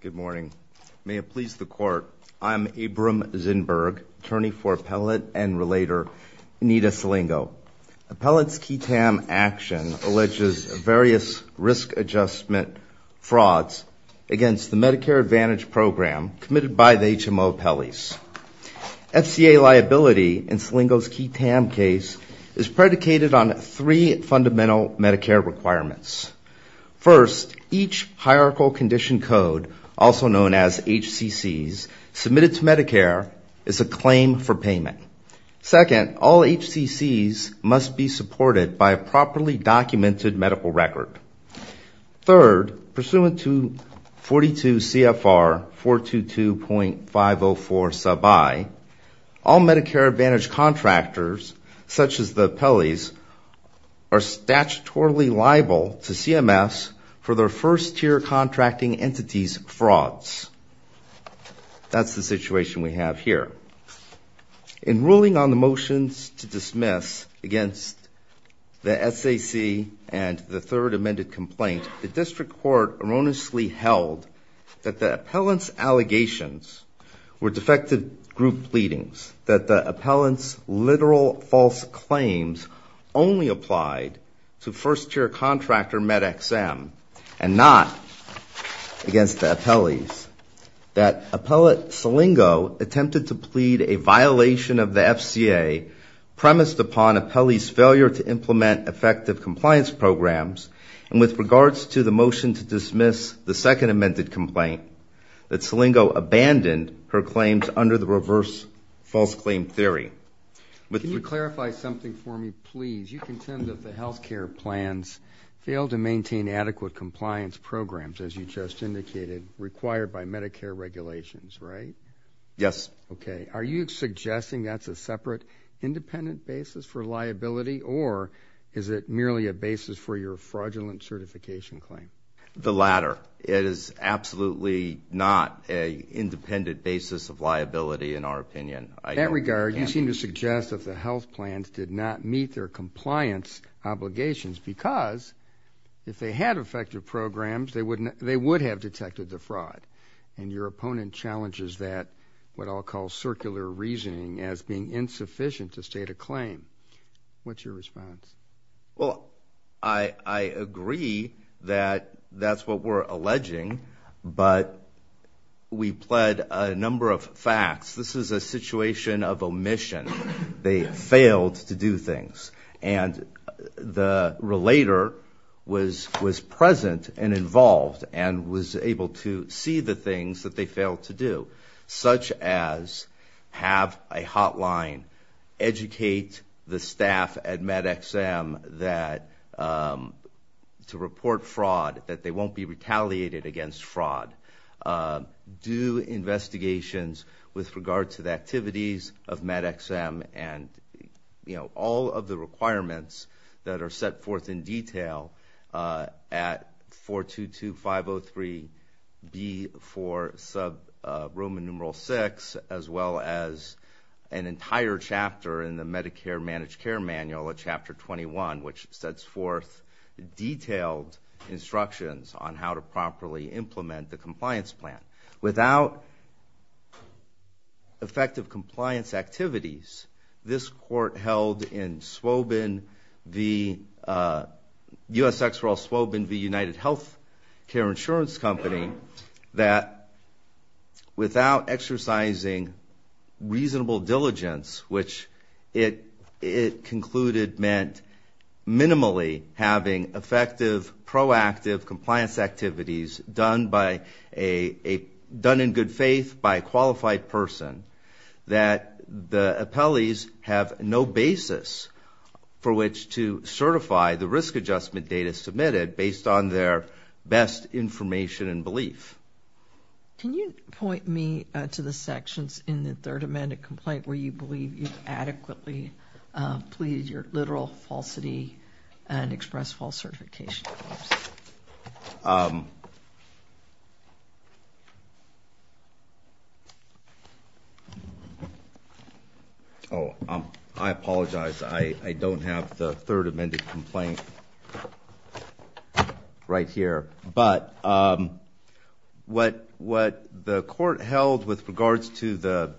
Good morning. May it please the Court, I'm Abram Zinberg, attorney for Appellate and Relator Anita Silingo. Appellate's QTAM action alleges various risk adjustment frauds against the Medicare Advantage program committed by the HMO appellees. FCA liability in Silingo's QTAM case is predicated on three fundamental Medicare requirements. First, each hierarchical condition code, also known as HCCs, submitted to Medicare is a claim for payment. Second, all HCCs must be supported by a properly documented medical record. Third, pursuant to 42 CFR 422.504 sub I, all Medicare Advantage contractors, such as the appellees, are statutorily liable to CMS for their first-tier contracting entities' frauds. That's the situation we have here. In ruling on the motions to dismiss against the SAC and the third amended complaint, the district court erroneously held that the appellant's allegations were defective group pleadings, that the appellant's literal false claims only applied to first-tier contractor MedExM and not against the appellees, that Appellate Silingo attempted to plead a violation of the FCA premised upon appellee's failure to implement effective compliance programs, and with regards to the motion to dismiss the second amended complaint, that Silingo abandoned her claims under the reverse false claim theory. Can you clarify something for me, please? You contend that the health care plans fail to maintain adequate compliance programs, as you just indicated, required by Medicare regulations, right? Yes. Okay. Are you suggesting that's a separate independent basis for liability, or is it merely a basis for your fraudulent certification claim? The latter. It is absolutely not an independent basis of liability, in our opinion. In that regard, you seem to suggest that the health plans did not meet their compliance obligations because if they had effective programs, they would have detected the fraud, and your opponent challenges that, what I'll call circular reasoning, as being insufficient to state a claim. What's your response? Well, I agree that that's what we're alleging, but we pled a number of facts. This is a situation of omission. They failed to do things, and the relator was present and involved and was able to see the things that they failed to do, such as have a hotline, educate the staff at MedExM to report fraud, that they won't be retaliated against fraud, do investigations with regard to the activities of MedExM and all of the requirements that are set forth in detail at 422-503-B4-6, as well as an entire chapter in the Medicare Managed Care Manual at Chapter 21, which sets forth detailed instructions on how to properly implement the compliance plan. Without effective compliance activities, this court held in Swobin v. U.S. Ex-Royal Swobin v. United Health Care Insurance Company that without exercising reasonable diligence, which it concluded meant minimally having effective, proactive compliance activities done in good faith by a qualified person, that the appellees have no basis for which to certify the risk adjustment data submitted based on their best information and belief. Can you point me to the sections in the third amended complaint where you believe you've adequately pleaded your literal falsity and expressed false certification? Oops. Oh, I apologize. I don't have the third amended complaint right here. But what the court held with regards to the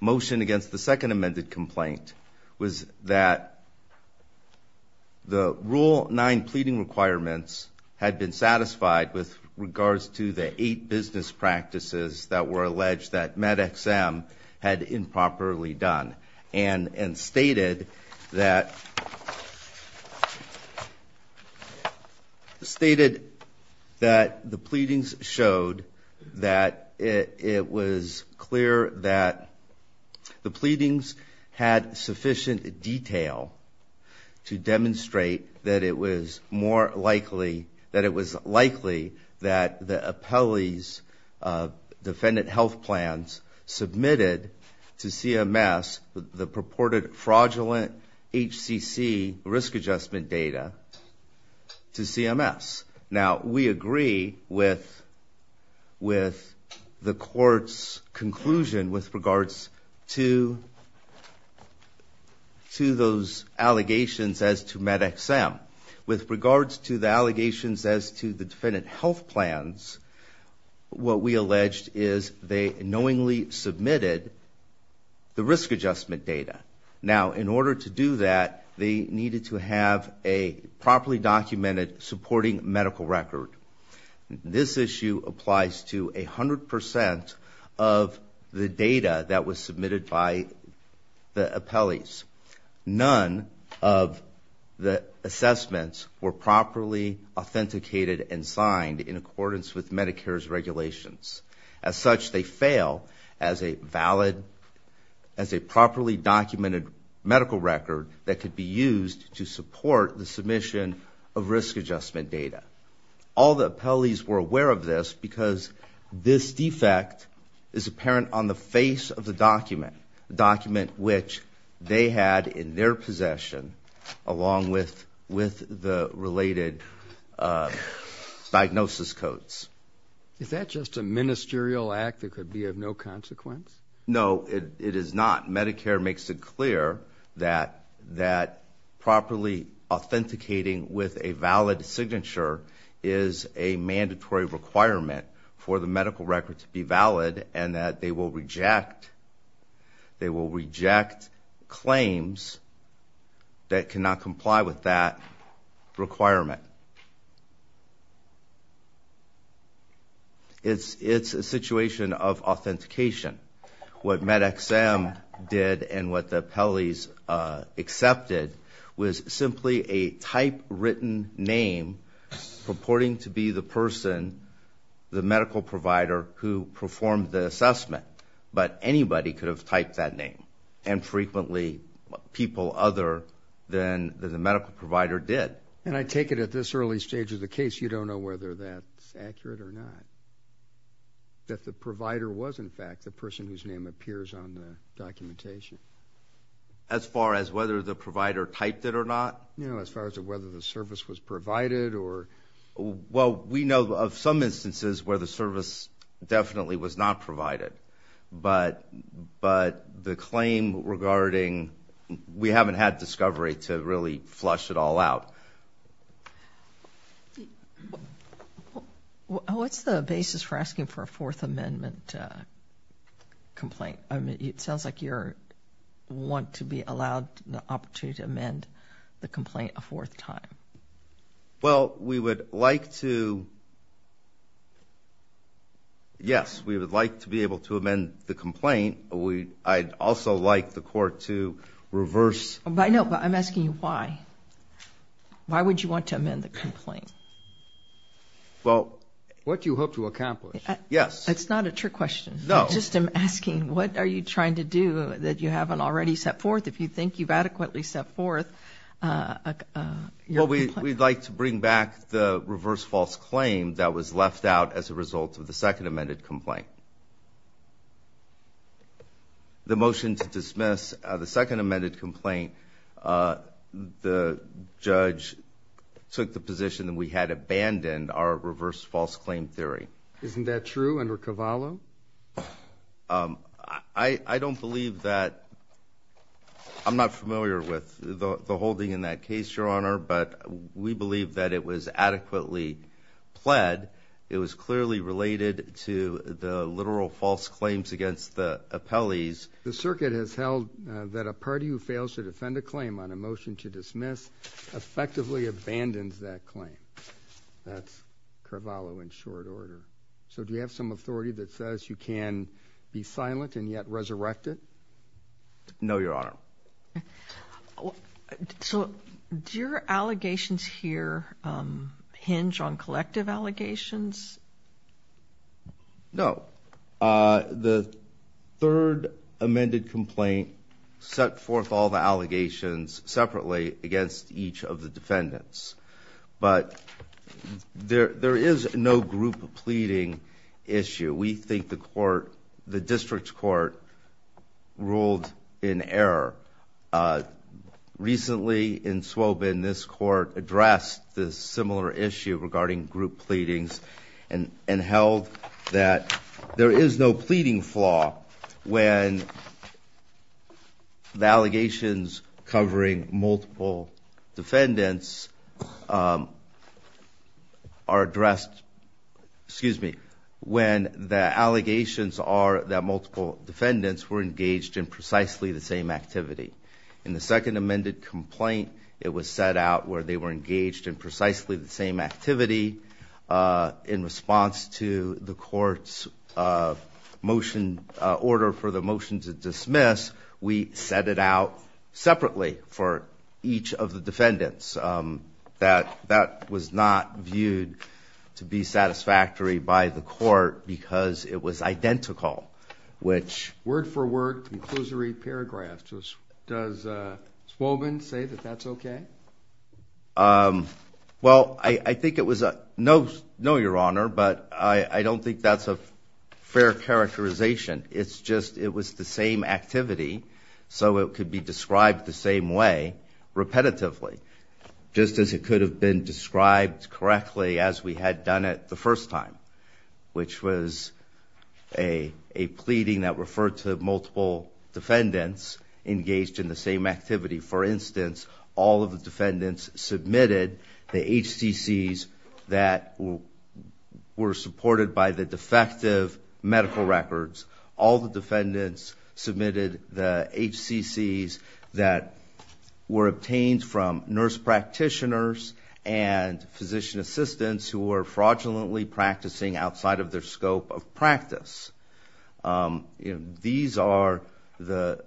motion against the second amended complaint was that the Rule 9 pleading requirements had been satisfied with regards to the eight business practices that were alleged that MedExM had improperly done and stated that the pleadings showed that it was clear that the pleadings had sufficient detail to demonstrate that it was more likely that it was likely that the appellee's defendant health plans submitted to CMS the purported fraudulent HCC risk adjustment data to CMS. Now, we agree with the court's conclusion with regards to those allegations as to MedExM. With regards to the allegations as to the defendant health plans, what we alleged is they knowingly submitted the risk adjustment data. Now, in order to do that, they needed to have a properly documented supporting medical record. This issue applies to 100% of the data that was submitted by the appellees. None of the assessments were properly authenticated and signed in accordance with Medicare's regulations. As such, they fail as a properly documented medical record that could be used to support the submission of risk adjustment data. All the appellees were aware of this because this defect is apparent on the face of the document, the document which they had in their possession along with the related diagnosis codes. Is that just a ministerial act that could be of no consequence? No, it is not. Medicare makes it clear that properly authenticating with a valid signature is a mandatory requirement for the medical record to be valid and that they will reject claims that cannot comply with that requirement. It's a situation of authentication. What MedExM did and what the appellees accepted was simply a typewritten name purporting to be the person, the medical provider, who performed the assessment. But anybody could have typed that name, and frequently people other than the medical provider did. And I take it at this early stage of the case, you don't know whether that's accurate or not, that the provider was, in fact, the person whose name appears on the documentation. As far as whether the provider typed it or not? As far as whether the service was provided? Well, we know of some instances where the service definitely was not provided, but the claim regarding we haven't had discovery to really flush it all out. What's the basis for asking for a Fourth Amendment complaint? It sounds like you want to be allowed the opportunity to amend the complaint a fourth time. Well, we would like to... Yes, we would like to be able to amend the complaint. I'd also like the court to reverse... No, but I'm asking you why. Why would you want to amend the complaint? What you hope to accomplish. Yes. That's not a trick question. No. I'm just asking, what are you trying to do that you haven't already set forth? If you think you've adequately set forth your complaint... Well, we'd like to bring back the reverse false claim that was left out as a result of the second amended complaint. The motion to dismiss the second amended complaint, the judge took the position that we had abandoned our reverse false claim theory. Isn't that true under Carvalho? I don't believe that... I'm not familiar with the holding in that case, Your Honor, but we believe that it was adequately pled. It was clearly related to the literal false claims against the appellees. The circuit has held that a party who fails to defend a claim on a motion to dismiss effectively abandons that claim. That's Carvalho in short order. So do you have some authority that says you can be silent and yet resurrect it? No, Your Honor. Do your allegations here hinge on collective allegations? No. The third amended complaint set forth all the allegations separately against each of the defendants. But there is no group pleading issue. We think the district court ruled in error. Recently in Swobin, this court addressed this similar issue regarding group pleadings and held that there is no pleading flaw when the allegations covering multiple defendants are addressed. Excuse me. When the allegations are that multiple defendants were engaged in precisely the same activity. In the second amended complaint, it was set out where they were engaged in precisely the same activity. In response to the court's order for the motion to dismiss, we set it out separately for each of the defendants. That was not viewed to be satisfactory by the court because it was identical. Word for word, conclusory paragraphs. Does Swobin say that that's okay? Well, I think it was a no, Your Honor, but I don't think that's a fair characterization. It's just it was the same activity, so it could be described the same way repetitively. Just as it could have been described correctly as we had done it the first time, which was a pleading that referred to multiple defendants engaged in the same activity. For instance, all of the defendants submitted the HCCs that were supported by the defective medical records. All the defendants submitted the HCCs that were obtained from nurse practitioners and physician assistants who were fraudulently practicing outside of their scope of practice. Those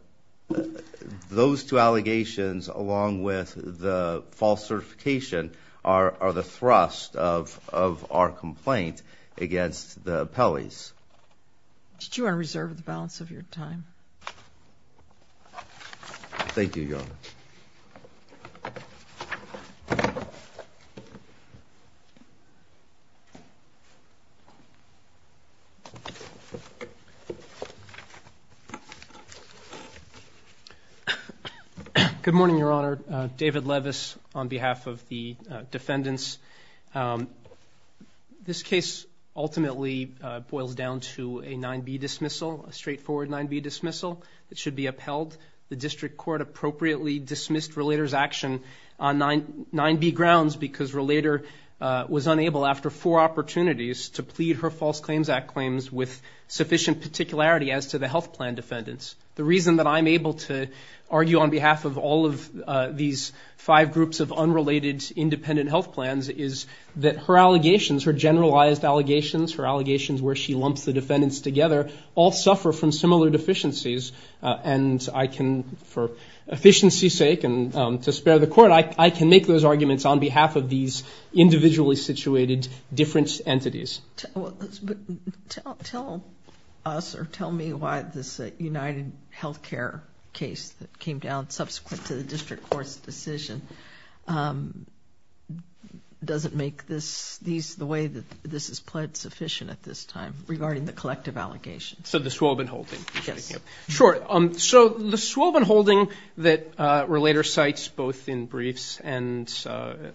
two allegations along with the false certification are the thrust of our complaint against the appellees. Did you want to reserve the balance of your time? Thank you, Your Honor. Good morning, Your Honor. David Levis on behalf of the defendants. This case ultimately boils down to a 9B dismissal, a straightforward 9B dismissal that should be upheld. The district court appropriately dismissed Relator's action on 9B grounds because Relator was unable, after four opportunities, to plead her False Claims Act claims with sufficient particularity as to the health plan defendants. The reason that I'm able to argue on behalf of all of these five groups of unrelated independent health plans is that her allegations, her generalized allegations, her allegations where she lumps the defendants together, all suffer from similar deficiencies. And I can, for efficiency's sake and to spare the court, I can make those arguments on behalf of these individually situated different entities. Tell us or tell me why this UnitedHealthcare case that came down subsequent to the district court's decision doesn't make this, the way that this is pled sufficient at this time regarding the collective allegations. So the Swobin holding. Yes. Sure. So the Swobin holding that Relator cites both in briefs and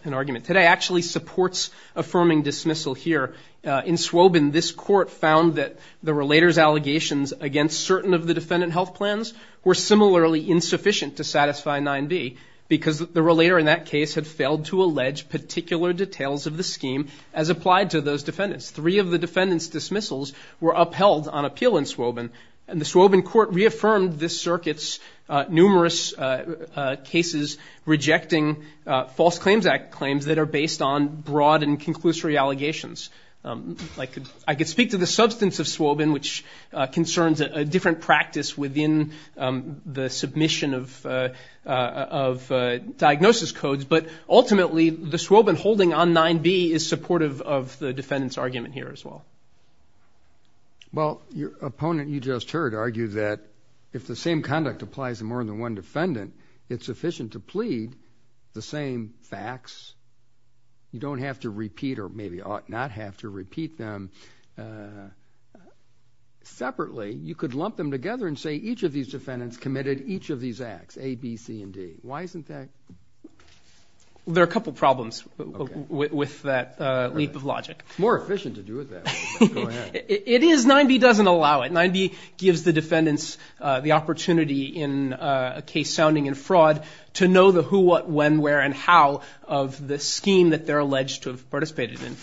in argument today actually supports affirming dismissal here. In Swobin, this court found that the Relator's allegations against certain of the defendant health plans were similarly insufficient to satisfy 9B because the Relator in that case had failed to allege particular details of the scheme as applied to those defendants. Three of the defendants dismissals were upheld on appeal in Swobin, and the Swobin court reaffirmed this circuit's numerous cases rejecting False Claims Act claims that are based on broad and conclusory allegations. I could speak to the substance of Swobin, which concerns a different practice within the submission of diagnosis codes, but ultimately the Swobin holding on 9B is supportive of the defendant's argument here as well. Well, your opponent you just heard argued that if the same conduct applies to more than one defendant, it's sufficient to plead the same facts. You don't have to repeat or maybe ought not have to repeat them separately. You could lump them together and say each of these defendants committed each of these acts, A, B, C, and D. Why isn't that? There are a couple problems with that leap of logic. More efficient to do it that way. It is. 9B doesn't allow it. 9B gives the defendants the opportunity in a case sounding in fraud to know the who, what, when, where, and how of the scheme that they're alleged to have participated in.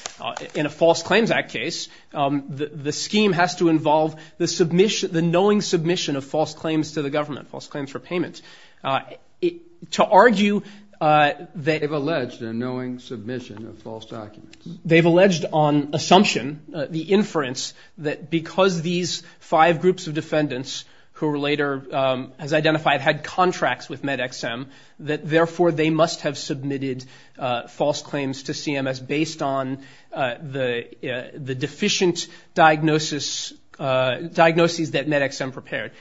In a False Claims Act case, the scheme has to involve the knowing submission of false claims to the government, false claims for payment. To argue that. They've alleged a knowing submission of false documents. They've alleged on assumption, the inference, that because these five groups of defendants who Relator has identified had contracts with MedXM, that therefore they must have submitted false claims to CMS based on the deficient diagnosis, diagnoses that MedXM prepared.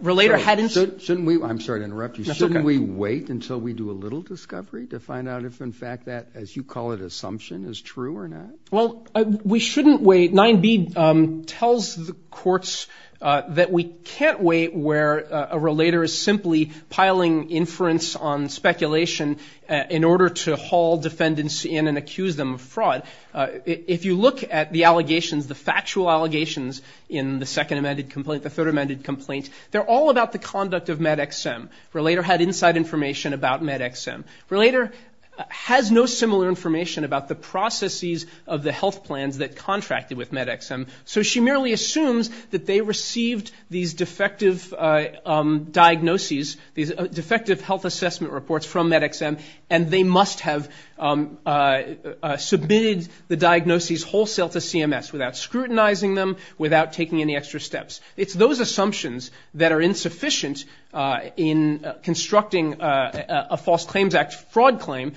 Relator hadn't. Shouldn't we, I'm sorry to interrupt you, Shouldn't we wait until we do a little discovery to find out if, in fact, that, as you call it, assumption is true or not? Well, we shouldn't wait. 9B tells the courts that we can't wait where a Relator is simply piling inference on speculation in order to haul defendants in and accuse them of fraud. If you look at the allegations, the factual allegations in the Second Amended Complaint, the Third Amended Complaint, they're all about the conduct of MedXM. Relator had inside information about MedXM. Relator has no similar information about the processes of the health plans that contracted with MedXM, so she merely assumes that they received these defective diagnoses, these defective health assessment reports from MedXM, and they must have submitted the diagnoses wholesale to CMS without scrutinizing them, without taking any extra steps. It's those assumptions that are insufficient in constructing a False Claims Act fraud claim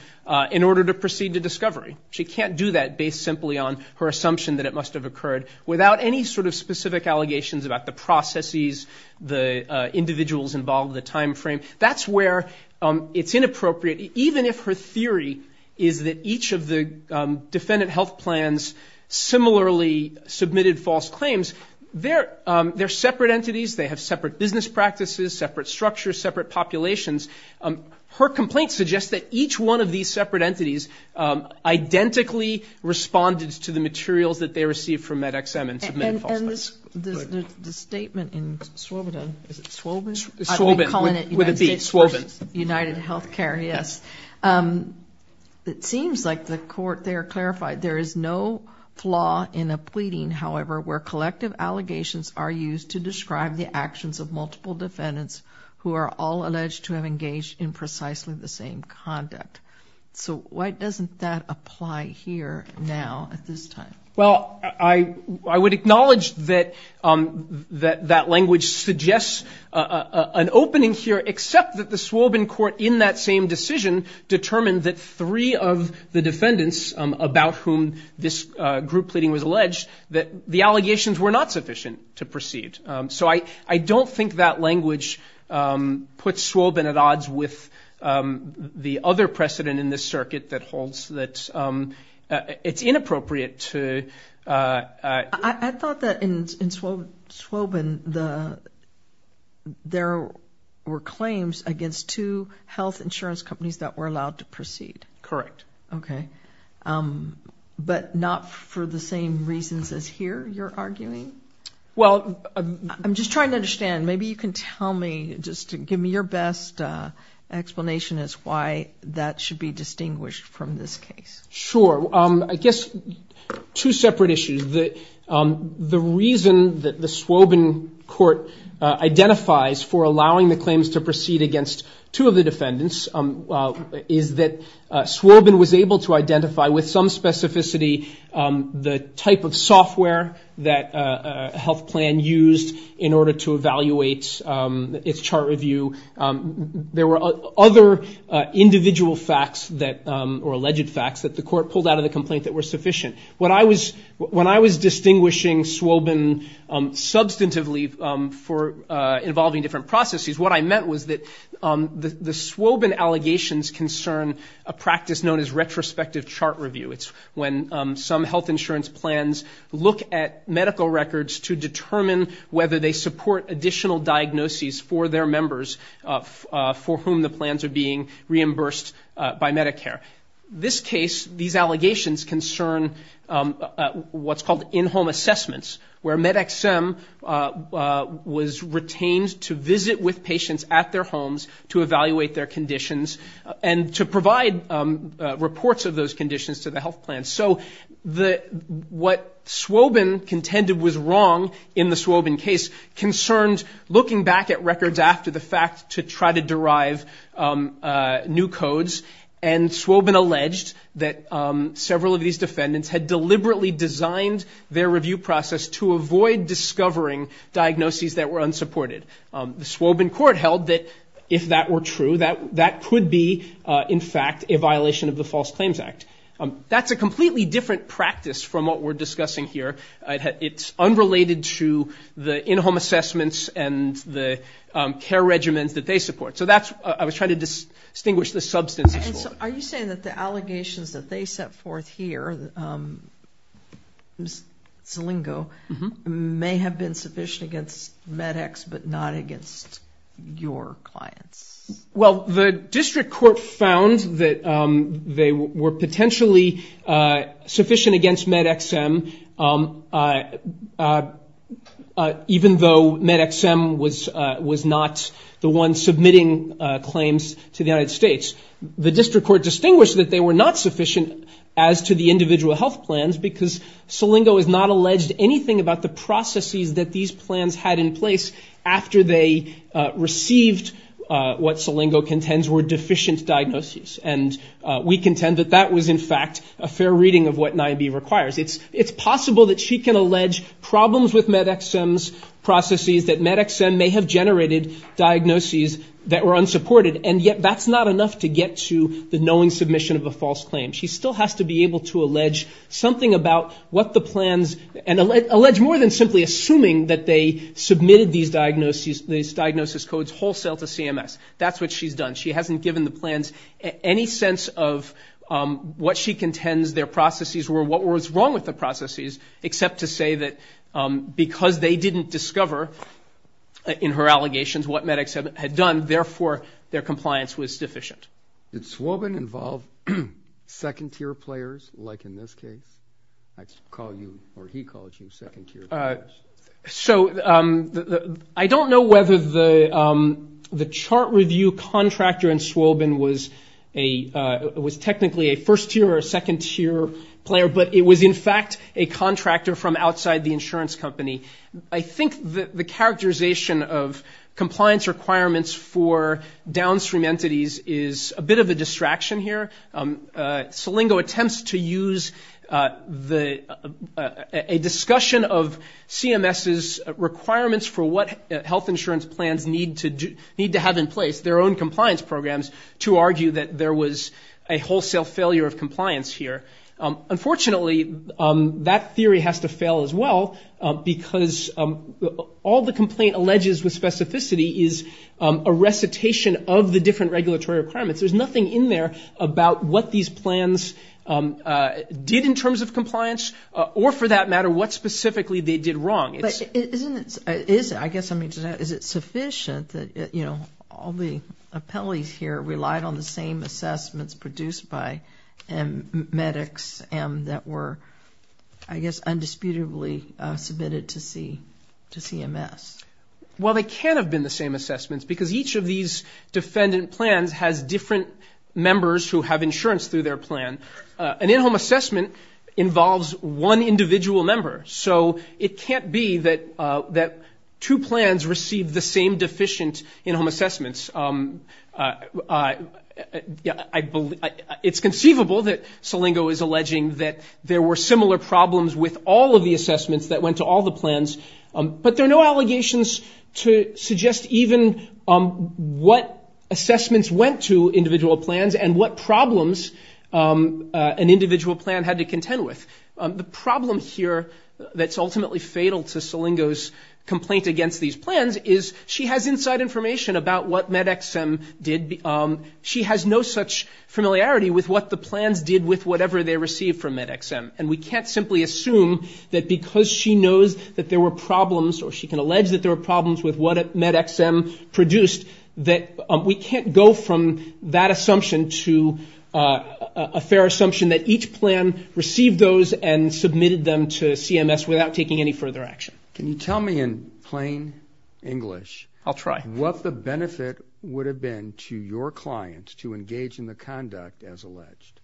in order to proceed to discovery. She can't do that based simply on her assumption that it must have occurred without any sort of specific allegations about the processes, the individuals involved, the time frame. That's where it's inappropriate. Even if her theory is that each of the defendant health plans similarly submitted false claims, they're separate entities, they have separate business practices, separate structures, separate populations. Her complaint suggests that each one of these separate entities identically responded to the materials that they received from MedXM and submitted false claims. And the statement in Swoboda, is it Swoban? Swoban, would it be, Swoban. United Health Care, yes. It seems like the court there clarified there is no flaw in a pleading, however, where collective allegations are used to describe the actions of multiple defendants who are all alleged to have engaged in precisely the same conduct. So why doesn't that apply here now at this time? Well, I would acknowledge that that language suggests an opening here, except that the Swoban court in that same decision determined that three of the defendants about whom this group pleading was alleged, that the allegations were not sufficient to proceed. So I don't think that language puts Swoban at odds with the other precedent in this circuit that holds that it's inappropriate to... I thought that in Swoban, there were claims against two health insurance companies that were allowed to proceed. Correct. Okay. But not for the same reasons as here, you're arguing? Well... I'm just trying to understand. Maybe you can tell me, just give me your best explanation as to why that should be distinguished from this case. Sure. I guess two separate issues. The reason that the Swoban court identifies for allowing the claims to proceed against two of the defendants is that Swoban was able to identify with some specificity the type of software that a health plan used in order to evaluate its chart review. There were other individual facts or alleged facts that the court pulled out of the complaint that were sufficient. When I was distinguishing Swoban substantively for involving different processes, what I meant was that the Swoban allegations concern a practice known as retrospective chart review. It's when some health insurance plans look at medical records to determine whether they support additional diagnoses for their members for whom the plans are being reimbursed by Medicare. This case, these allegations concern what's called in-home assessments, where MedExSim was retained to visit with patients at their homes to evaluate their conditions and to provide reports of those conditions to the health plan. So what Swoban contended was wrong in the Swoban case concerned looking back at records after the fact to try to derive new codes. And Swoban alleged that several of these defendants had deliberately designed their review process to avoid discovering diagnoses that were unsupported. The Swoban court held that if that were true, that that could be, in fact, a violation of the False Claims Act. That's a completely different practice from what we're discussing here. It's unrelated to the in-home assessments and the care regimens that they support. So that's what I was trying to distinguish the substances for. And so are you saying that the allegations that they set forth here, Zalingo, may have been sufficient against MedEx but not against your clients? Well, the district court found that they were potentially sufficient against MedExSim, even though MedExSim was not the one submitting claims to the United States. The district court distinguished that they were not sufficient as to the individual health plans because Zalingo has not alleged anything about the processes that these plans had in place after they received what Zalingo contends were deficient diagnoses. And we contend that that was, in fact, a fair reading of what NIBE requires. It's possible that she can allege problems with MedExSim's processes, that MedExSim may have generated diagnoses that were unsupported, and yet that's not enough to get to the knowing submission of a false claim. She still has to be able to allege something about what the plans, and allege more than simply assuming that they submitted these diagnosis codes wholesale to CMS. That's what she's done. She hasn't given the plans any sense of what she contends their processes were, what was wrong with the processes, except to say that because they didn't discover in her allegations what MedExSim had done, therefore their compliance was deficient. Did Swobin involve second-tier players, like in this case? I call you, or he calls you, second-tier players. So I don't know whether the chart review contractor in Swobin was technically a first-tier or a second-tier player, but it was, in fact, a contractor from outside the insurance company. I think the characterization of compliance requirements for downstream entities is a bit of a distraction here. Salingo attempts to use a discussion of CMS's requirements for what health insurance plans need to have in place, their own compliance programs, to argue that there was a wholesale failure of compliance here. Unfortunately, that theory has to fail as well, because all the complaint alleges with specificity is a recitation of the different regulatory requirements. There's nothing in there about what these plans did in terms of compliance or, for that matter, what specifically they did wrong. But isn't it, I guess I mean, is it sufficient that, you know, all the appellees here relied on the same assessments produced by Medics and that were, I guess, undisputably submitted to CMS? Well, they can't have been the same assessments, because each of these defendant plans has different members who have insurance through their plan. An in-home assessment involves one individual member. So it can't be that two plans receive the same deficient in-home assessments. It's conceivable that Salingo is alleging that there were similar problems with all of the assessments that went to all the plans, but there are no allegations to suggest even what assessments went to individual plans and what problems an individual plan had to contend with. The problem here that's ultimately fatal to Salingo's complaint against these plans is she has inside information about what MedExM did. She has no such familiarity with what the plans did with whatever they received from MedExM. And we can't simply assume that because she knows that there were problems or she can allege that there were problems with what MedExM produced, that we can't go from that assumption to a fair assumption that each plan received those and submitted them to CMS without taking any further action. Can you tell me in plain English what the benefit would have been to your client to engage in the conduct as alleged?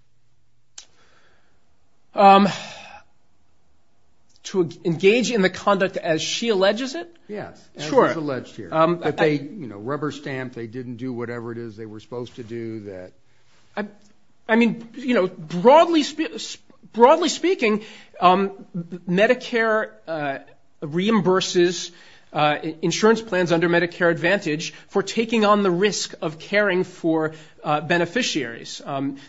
To engage in the conduct as she alleges it? Yes, as is alleged here. That they, you know, rubber-stamped, they didn't do whatever it is they were supposed to do. I mean, you know, broadly speaking, Medicare reimburses insurance plans under Medicare Advantage for taking on the risk of caring for beneficiaries.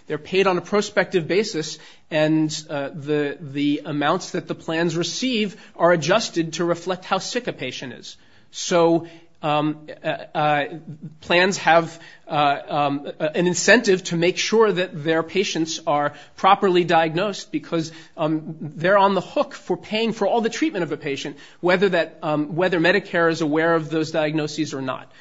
They're paid on a prospective basis, and the amounts that the plans receive are adjusted to reflect how sick a patient is. So plans have an incentive to make sure that their patients are properly diagnosed, because they're on the hook for paying for all the treatment of a patient, whether Medicare is aware of those diagnoses or not.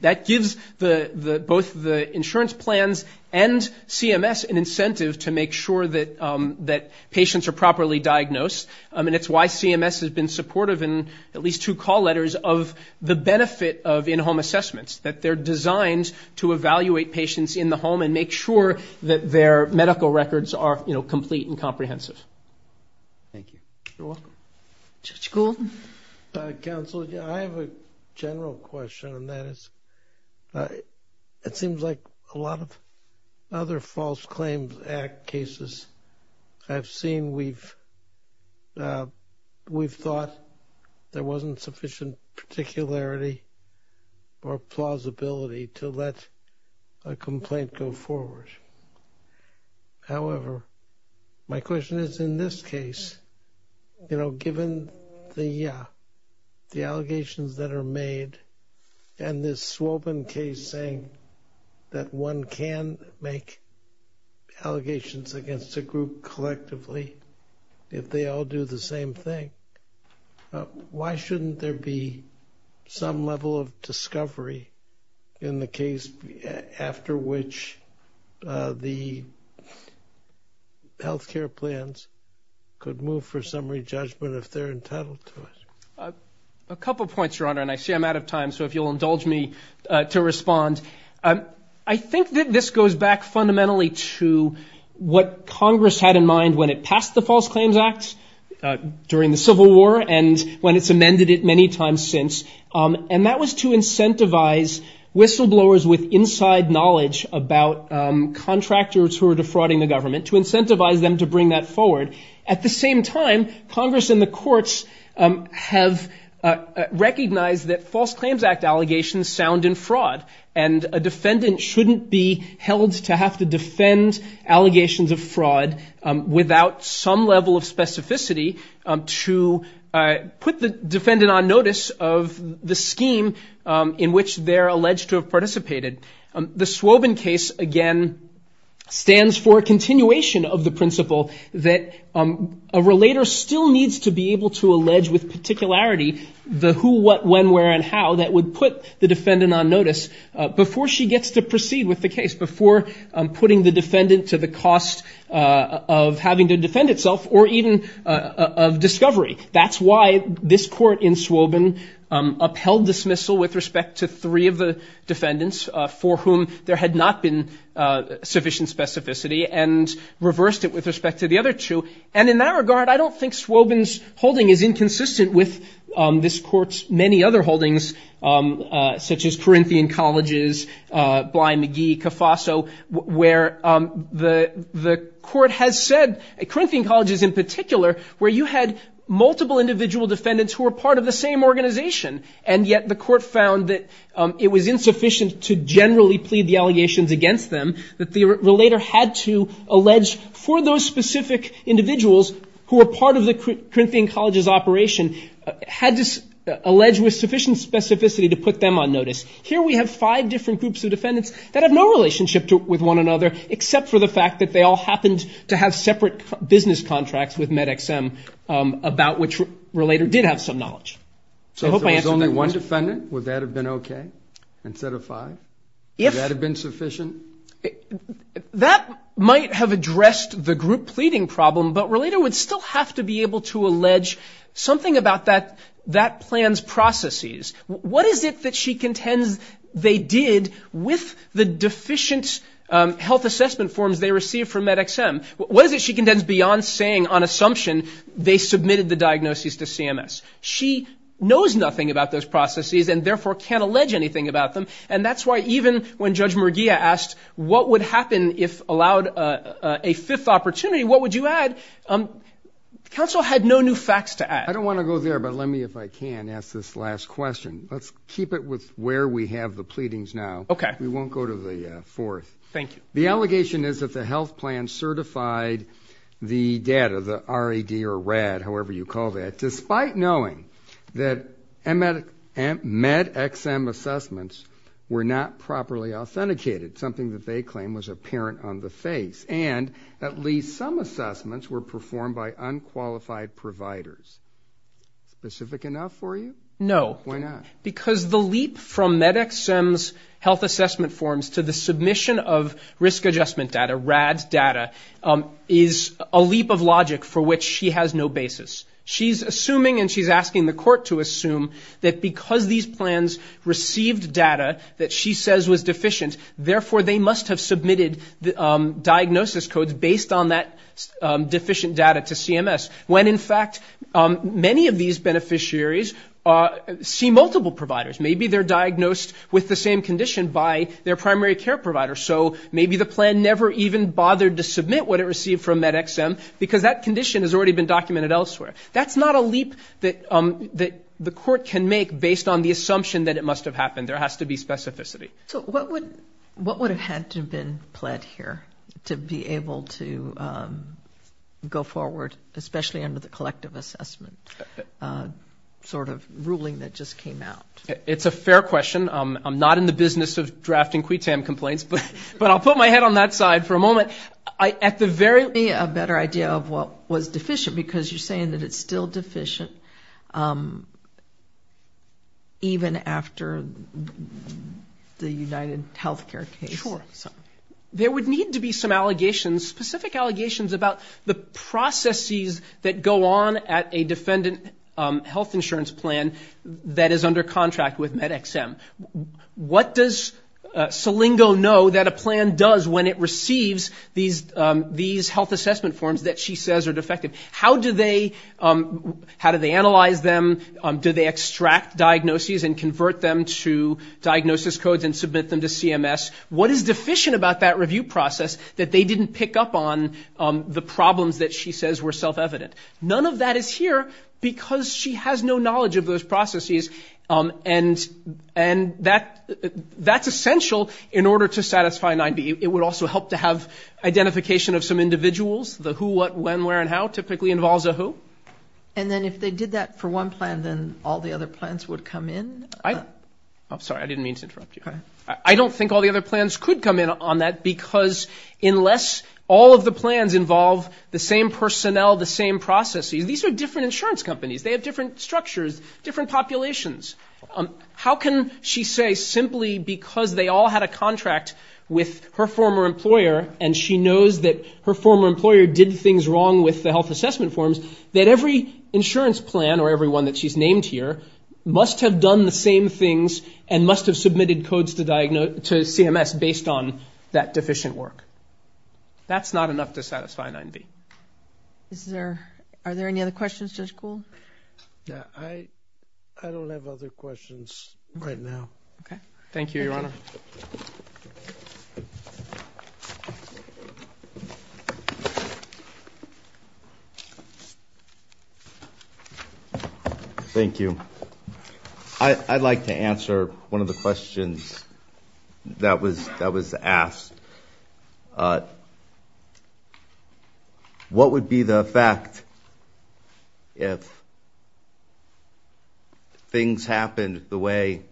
That gives both the insurance plans and CMS an incentive to make sure that patients are properly diagnosed, and it's why CMS has been supportive in at least two call letters of the benefit of in-home assessments, that they're designed to evaluate patients in the home and make sure that their medical records are, you know, complete and comprehensive. Thank you. You're welcome. Judge Gould? Counsel, I have a general question, and that is it seems like a lot of other False Claims Act cases I've seen, we've thought there wasn't sufficient particularity or plausibility to let a complaint go forward. However, my question is, in this case, you know, given the allegations that are made, and this Swobin case saying that one can make allegations against a group collectively if they all do the same thing, why shouldn't there be some level of discovery in the case after which the health care plans could move for summary judgment A couple points, Your Honor, and I see I'm out of time, so if you'll indulge me to respond. I think that this goes back fundamentally to what Congress had in mind when it passed the False Claims Act during the Civil War and when it's amended it many times since, and that was to incentivize whistleblowers with inside knowledge about contractors who are defrauding the government, to incentivize them to bring that forward. At the same time, Congress and the courts have recognized that False Claims Act allegations sound in fraud, and a defendant shouldn't be held to have to defend allegations of fraud without some level of specificity to put the defendant on notice of the scheme in which they're alleged to have participated. The Swobin case, again, stands for a continuation of the principle that a relator still needs to be able to allege with particularity the who, what, when, where, and how that would put the defendant on notice before she gets to proceed with the case, before putting the defendant to the cost of having to defend itself or even of discovery. That's why this court in Swobin upheld dismissal with respect to three of the defendants for whom there had not been sufficient specificity and reversed it with respect to the other two. And in that regard, I don't think Swobin's holding is inconsistent with this court's many other holdings, such as Corinthian Colleges, Bly McGee, Cafaso, where the court has said, Corinthian Colleges in particular, where you had multiple individual defendants who were part of the same organization, and yet the court found that it was insufficient to generally plead the allegations against them, that the relator had to allege for those specific individuals who were part of the Corinthian Colleges operation, had to allege with sufficient specificity to put them on notice. Here we have five different groups of defendants that have no relationship with one another, except for the fact that they all happened to have separate business contracts with MedExM, about which the relator did have some knowledge. So if there was only one defendant, would that have been okay, instead of five? Would that have been sufficient? That might have addressed the group pleading problem, but the relator would still have to be able to allege something about that plan's processes. What is it that she contends they did with the deficient health assessment forms they received from MedExM? What is it she contends, beyond saying on assumption, they submitted the diagnoses to CMS? She knows nothing about those processes, and therefore can't allege anything about them, and that's why even when Judge Murguia asked what would happen if allowed a fifth opportunity, what would you add? Counsel had no new facts to add. I don't want to go there, but let me, if I can, ask this last question. Let's keep it with where we have the pleadings now. We won't go to the fourth. The allegation is that the health plan certified the data, the RED, however you call that, despite knowing that MedExM assessments were not properly authenticated, something that they claim was apparent on the face, and at least some assessments were performed by unqualified providers. Specific enough for you? No. Why not? Because the leap from MedExM's health assessment forms to the submission of risk adjustment data, RADS data, is a leap of logic for which she has no basis. She's assuming and she's asking the court to assume that because these plans received data that she says was deficient, therefore they must have submitted diagnosis codes based on that deficient data to CMS, when in fact many of these beneficiaries see multiple providers. Maybe they're diagnosed with the same condition by their primary care provider, so maybe the plan never even bothered to submit what it received from MedExM, because that condition has already been documented elsewhere. That's not a leap that the court can make based on the assumption that it must have happened. There has to be specificity. So what would have had to have been pled here to be able to go forward, especially under the collective assessment sort of ruling that just came out? It's a fair question. I'm not in the business of drafting QUTAM complaints, but I'll put my head on that side for a moment. Give me a better idea of what was deficient, because you're saying that it's still deficient, even after the UnitedHealthcare case. Sure. There would need to be some allegations, specific allegations about the processes that go on at a defendant health insurance plan that is under contract with MedExM. What does Salingo know that a plan does when it receives these health assessment forms that she says are defective? How do they analyze them? Do they extract diagnoses and convert them to diagnosis codes and submit them to CMS? What is deficient about that review process that they didn't pick up on the problems that she says were self-evident? None of that is here, because she has no knowledge of those processes, and that's essential in order to satisfy 9B. It would also help to have identification of some individuals. The who, what, when, where, and how typically involves a who. And then if they did that for one plan, then all the other plans would come in? I'm sorry, I didn't mean to interrupt you. I don't think all the other plans could come in on that, because unless all of the plans involve the same personnel, the same processes, these are different insurance companies. They have different structures, different populations. How can she say simply because they all had a contract with her former employer, and she knows that her former employer did things wrong with the health assessment forms, that every insurance plan or every one that she's named here must have done the same things and must have submitted codes to CMS based on that deficient work? That's not enough to satisfy 9B. Are there any other questions, Judge Kuhl? I don't have other questions right now. Thank you, Your Honor. Thank you. I'd like to answer one of the questions that was asked. What would be the effect if things happened the way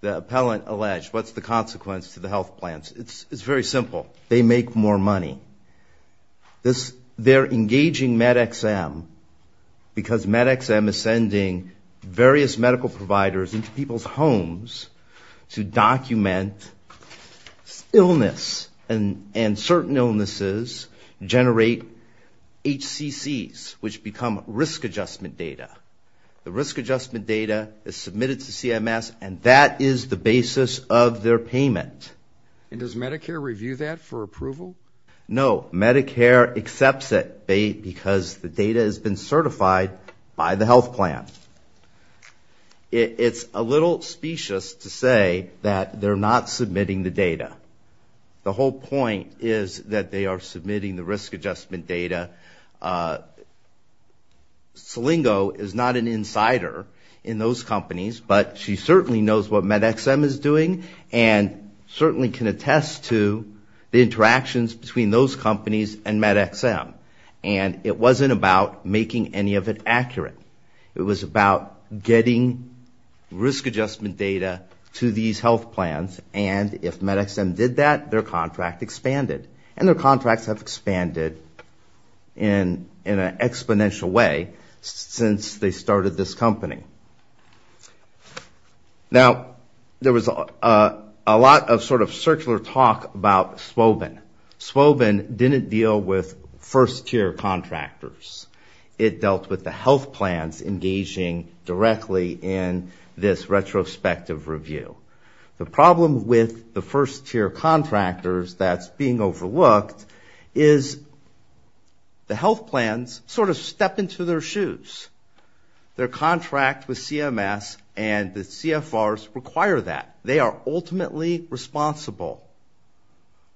the appellant alleged? What's the consequence to the health plans? It's very simple. They make more money. They're engaging MedXM because MedXM is sending various medical providers into people's homes to document illness, and certain illnesses generate HCCs, which become risk adjustment data. The risk adjustment data is submitted to CMS, and that is the basis of their payment. And does Medicare review that for approval? No, Medicare accepts it because the data has been certified by the health plan. It's a little specious to say that they're not submitting the data. The whole point is that they are submitting the risk adjustment data. Selingo is not an insider in those companies, but she certainly knows what MedXM is doing, and certainly can attest to the interactions between those companies and MedXM. And it wasn't about making any of it accurate. It was about getting risk adjustment data to these health plans, and if MedXM did that, their contract expanded. And their contracts have expanded in an exponential way since they started this company. Now, there was a lot of sort of circular talk about Swobin. Swobin didn't deal with first-tier contractors. It dealt with the health plans engaging directly in this retrospective review. The problem with the first-tier contractors that's being overlooked is the health plans sort of step into their shoes. Their contract with CMS and the CFRs require that. They are ultimately responsible,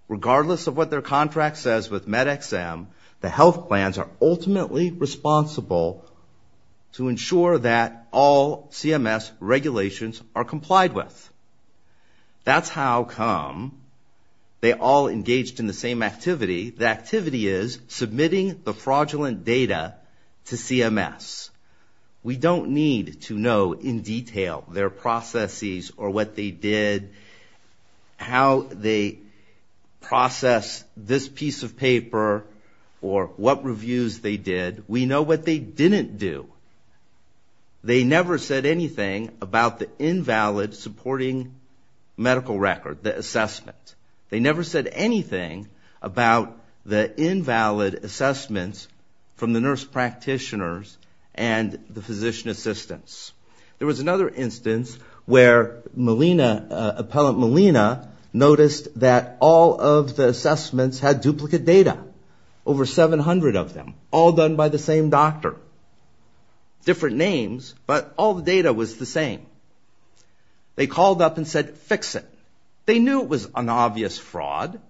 regardless of what their contract says with MedXM. The health plans are ultimately responsible to ensure that all CMS regulations are complied with. That's how come they all engaged in the same activity. The activity is submitting the fraudulent data to CMS. We don't need to know in detail their processes or what they did, how they processed this piece of paper, or what reviews they did. We know what they didn't do. They never said anything about the invalid supporting medical record, the assessment. They never said anything about the invalid assessments from the nurse practitioners and the physician assistants. There was another instance where Melina, Appellant Melina, noticed that all of the assessments had duplicate data, over 700 of them, all done by the same doctor. Different names, but all the data was the same. They called up and said, fix it. They knew it was an obvious fraud,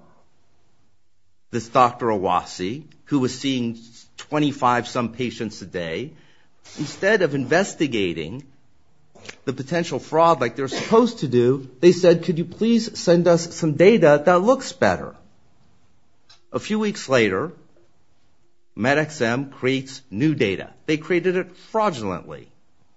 this Dr. Awasi, who was seeing 25-some patients a day. Instead of investigating the potential fraud like they're supposed to do, they said, could you please send us some data that looks better? A few weeks later, MedXM creates new data. They created it fraudulently.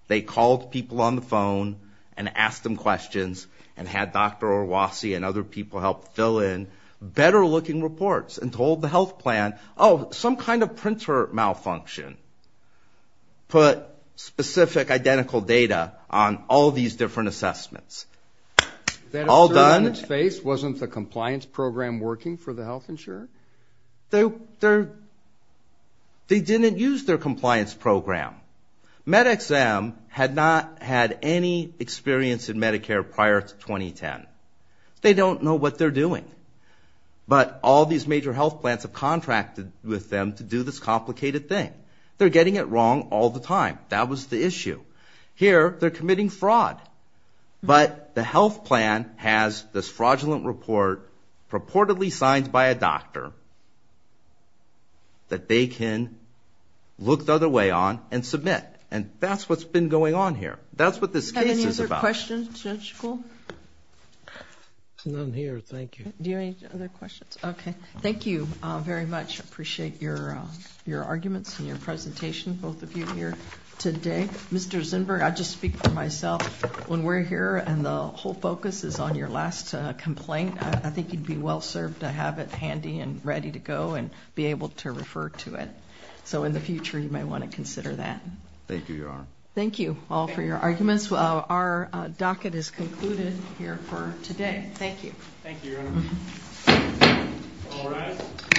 They called people on the phone and asked them questions and had Dr. Awasi and other people help fill in better looking reports and told the health plan, oh, some kind of printer malfunction. Put specific identical data on all these different assessments. All done. They didn't use their compliance program. MedXM had not had any experience in Medicare prior to 2010. They don't know what they're doing, but all these major health plans have contracted with them to do this complicated thing. They're getting it wrong all the time. But the health plan has this fraudulent report purportedly signed by a doctor that they can look the other way on and submit. And that's what's been going on here. That's what this case is about. Thank you very much. Appreciate your arguments and your presentation, both of you here today. Mr. Zinberg, I just speak for myself. When we're here and the whole focus is on your last complaint, I think you'd be well served to have it handy and ready to go and be able to refer to it. So in the future, you may want to consider that. Thank you, Your Honor.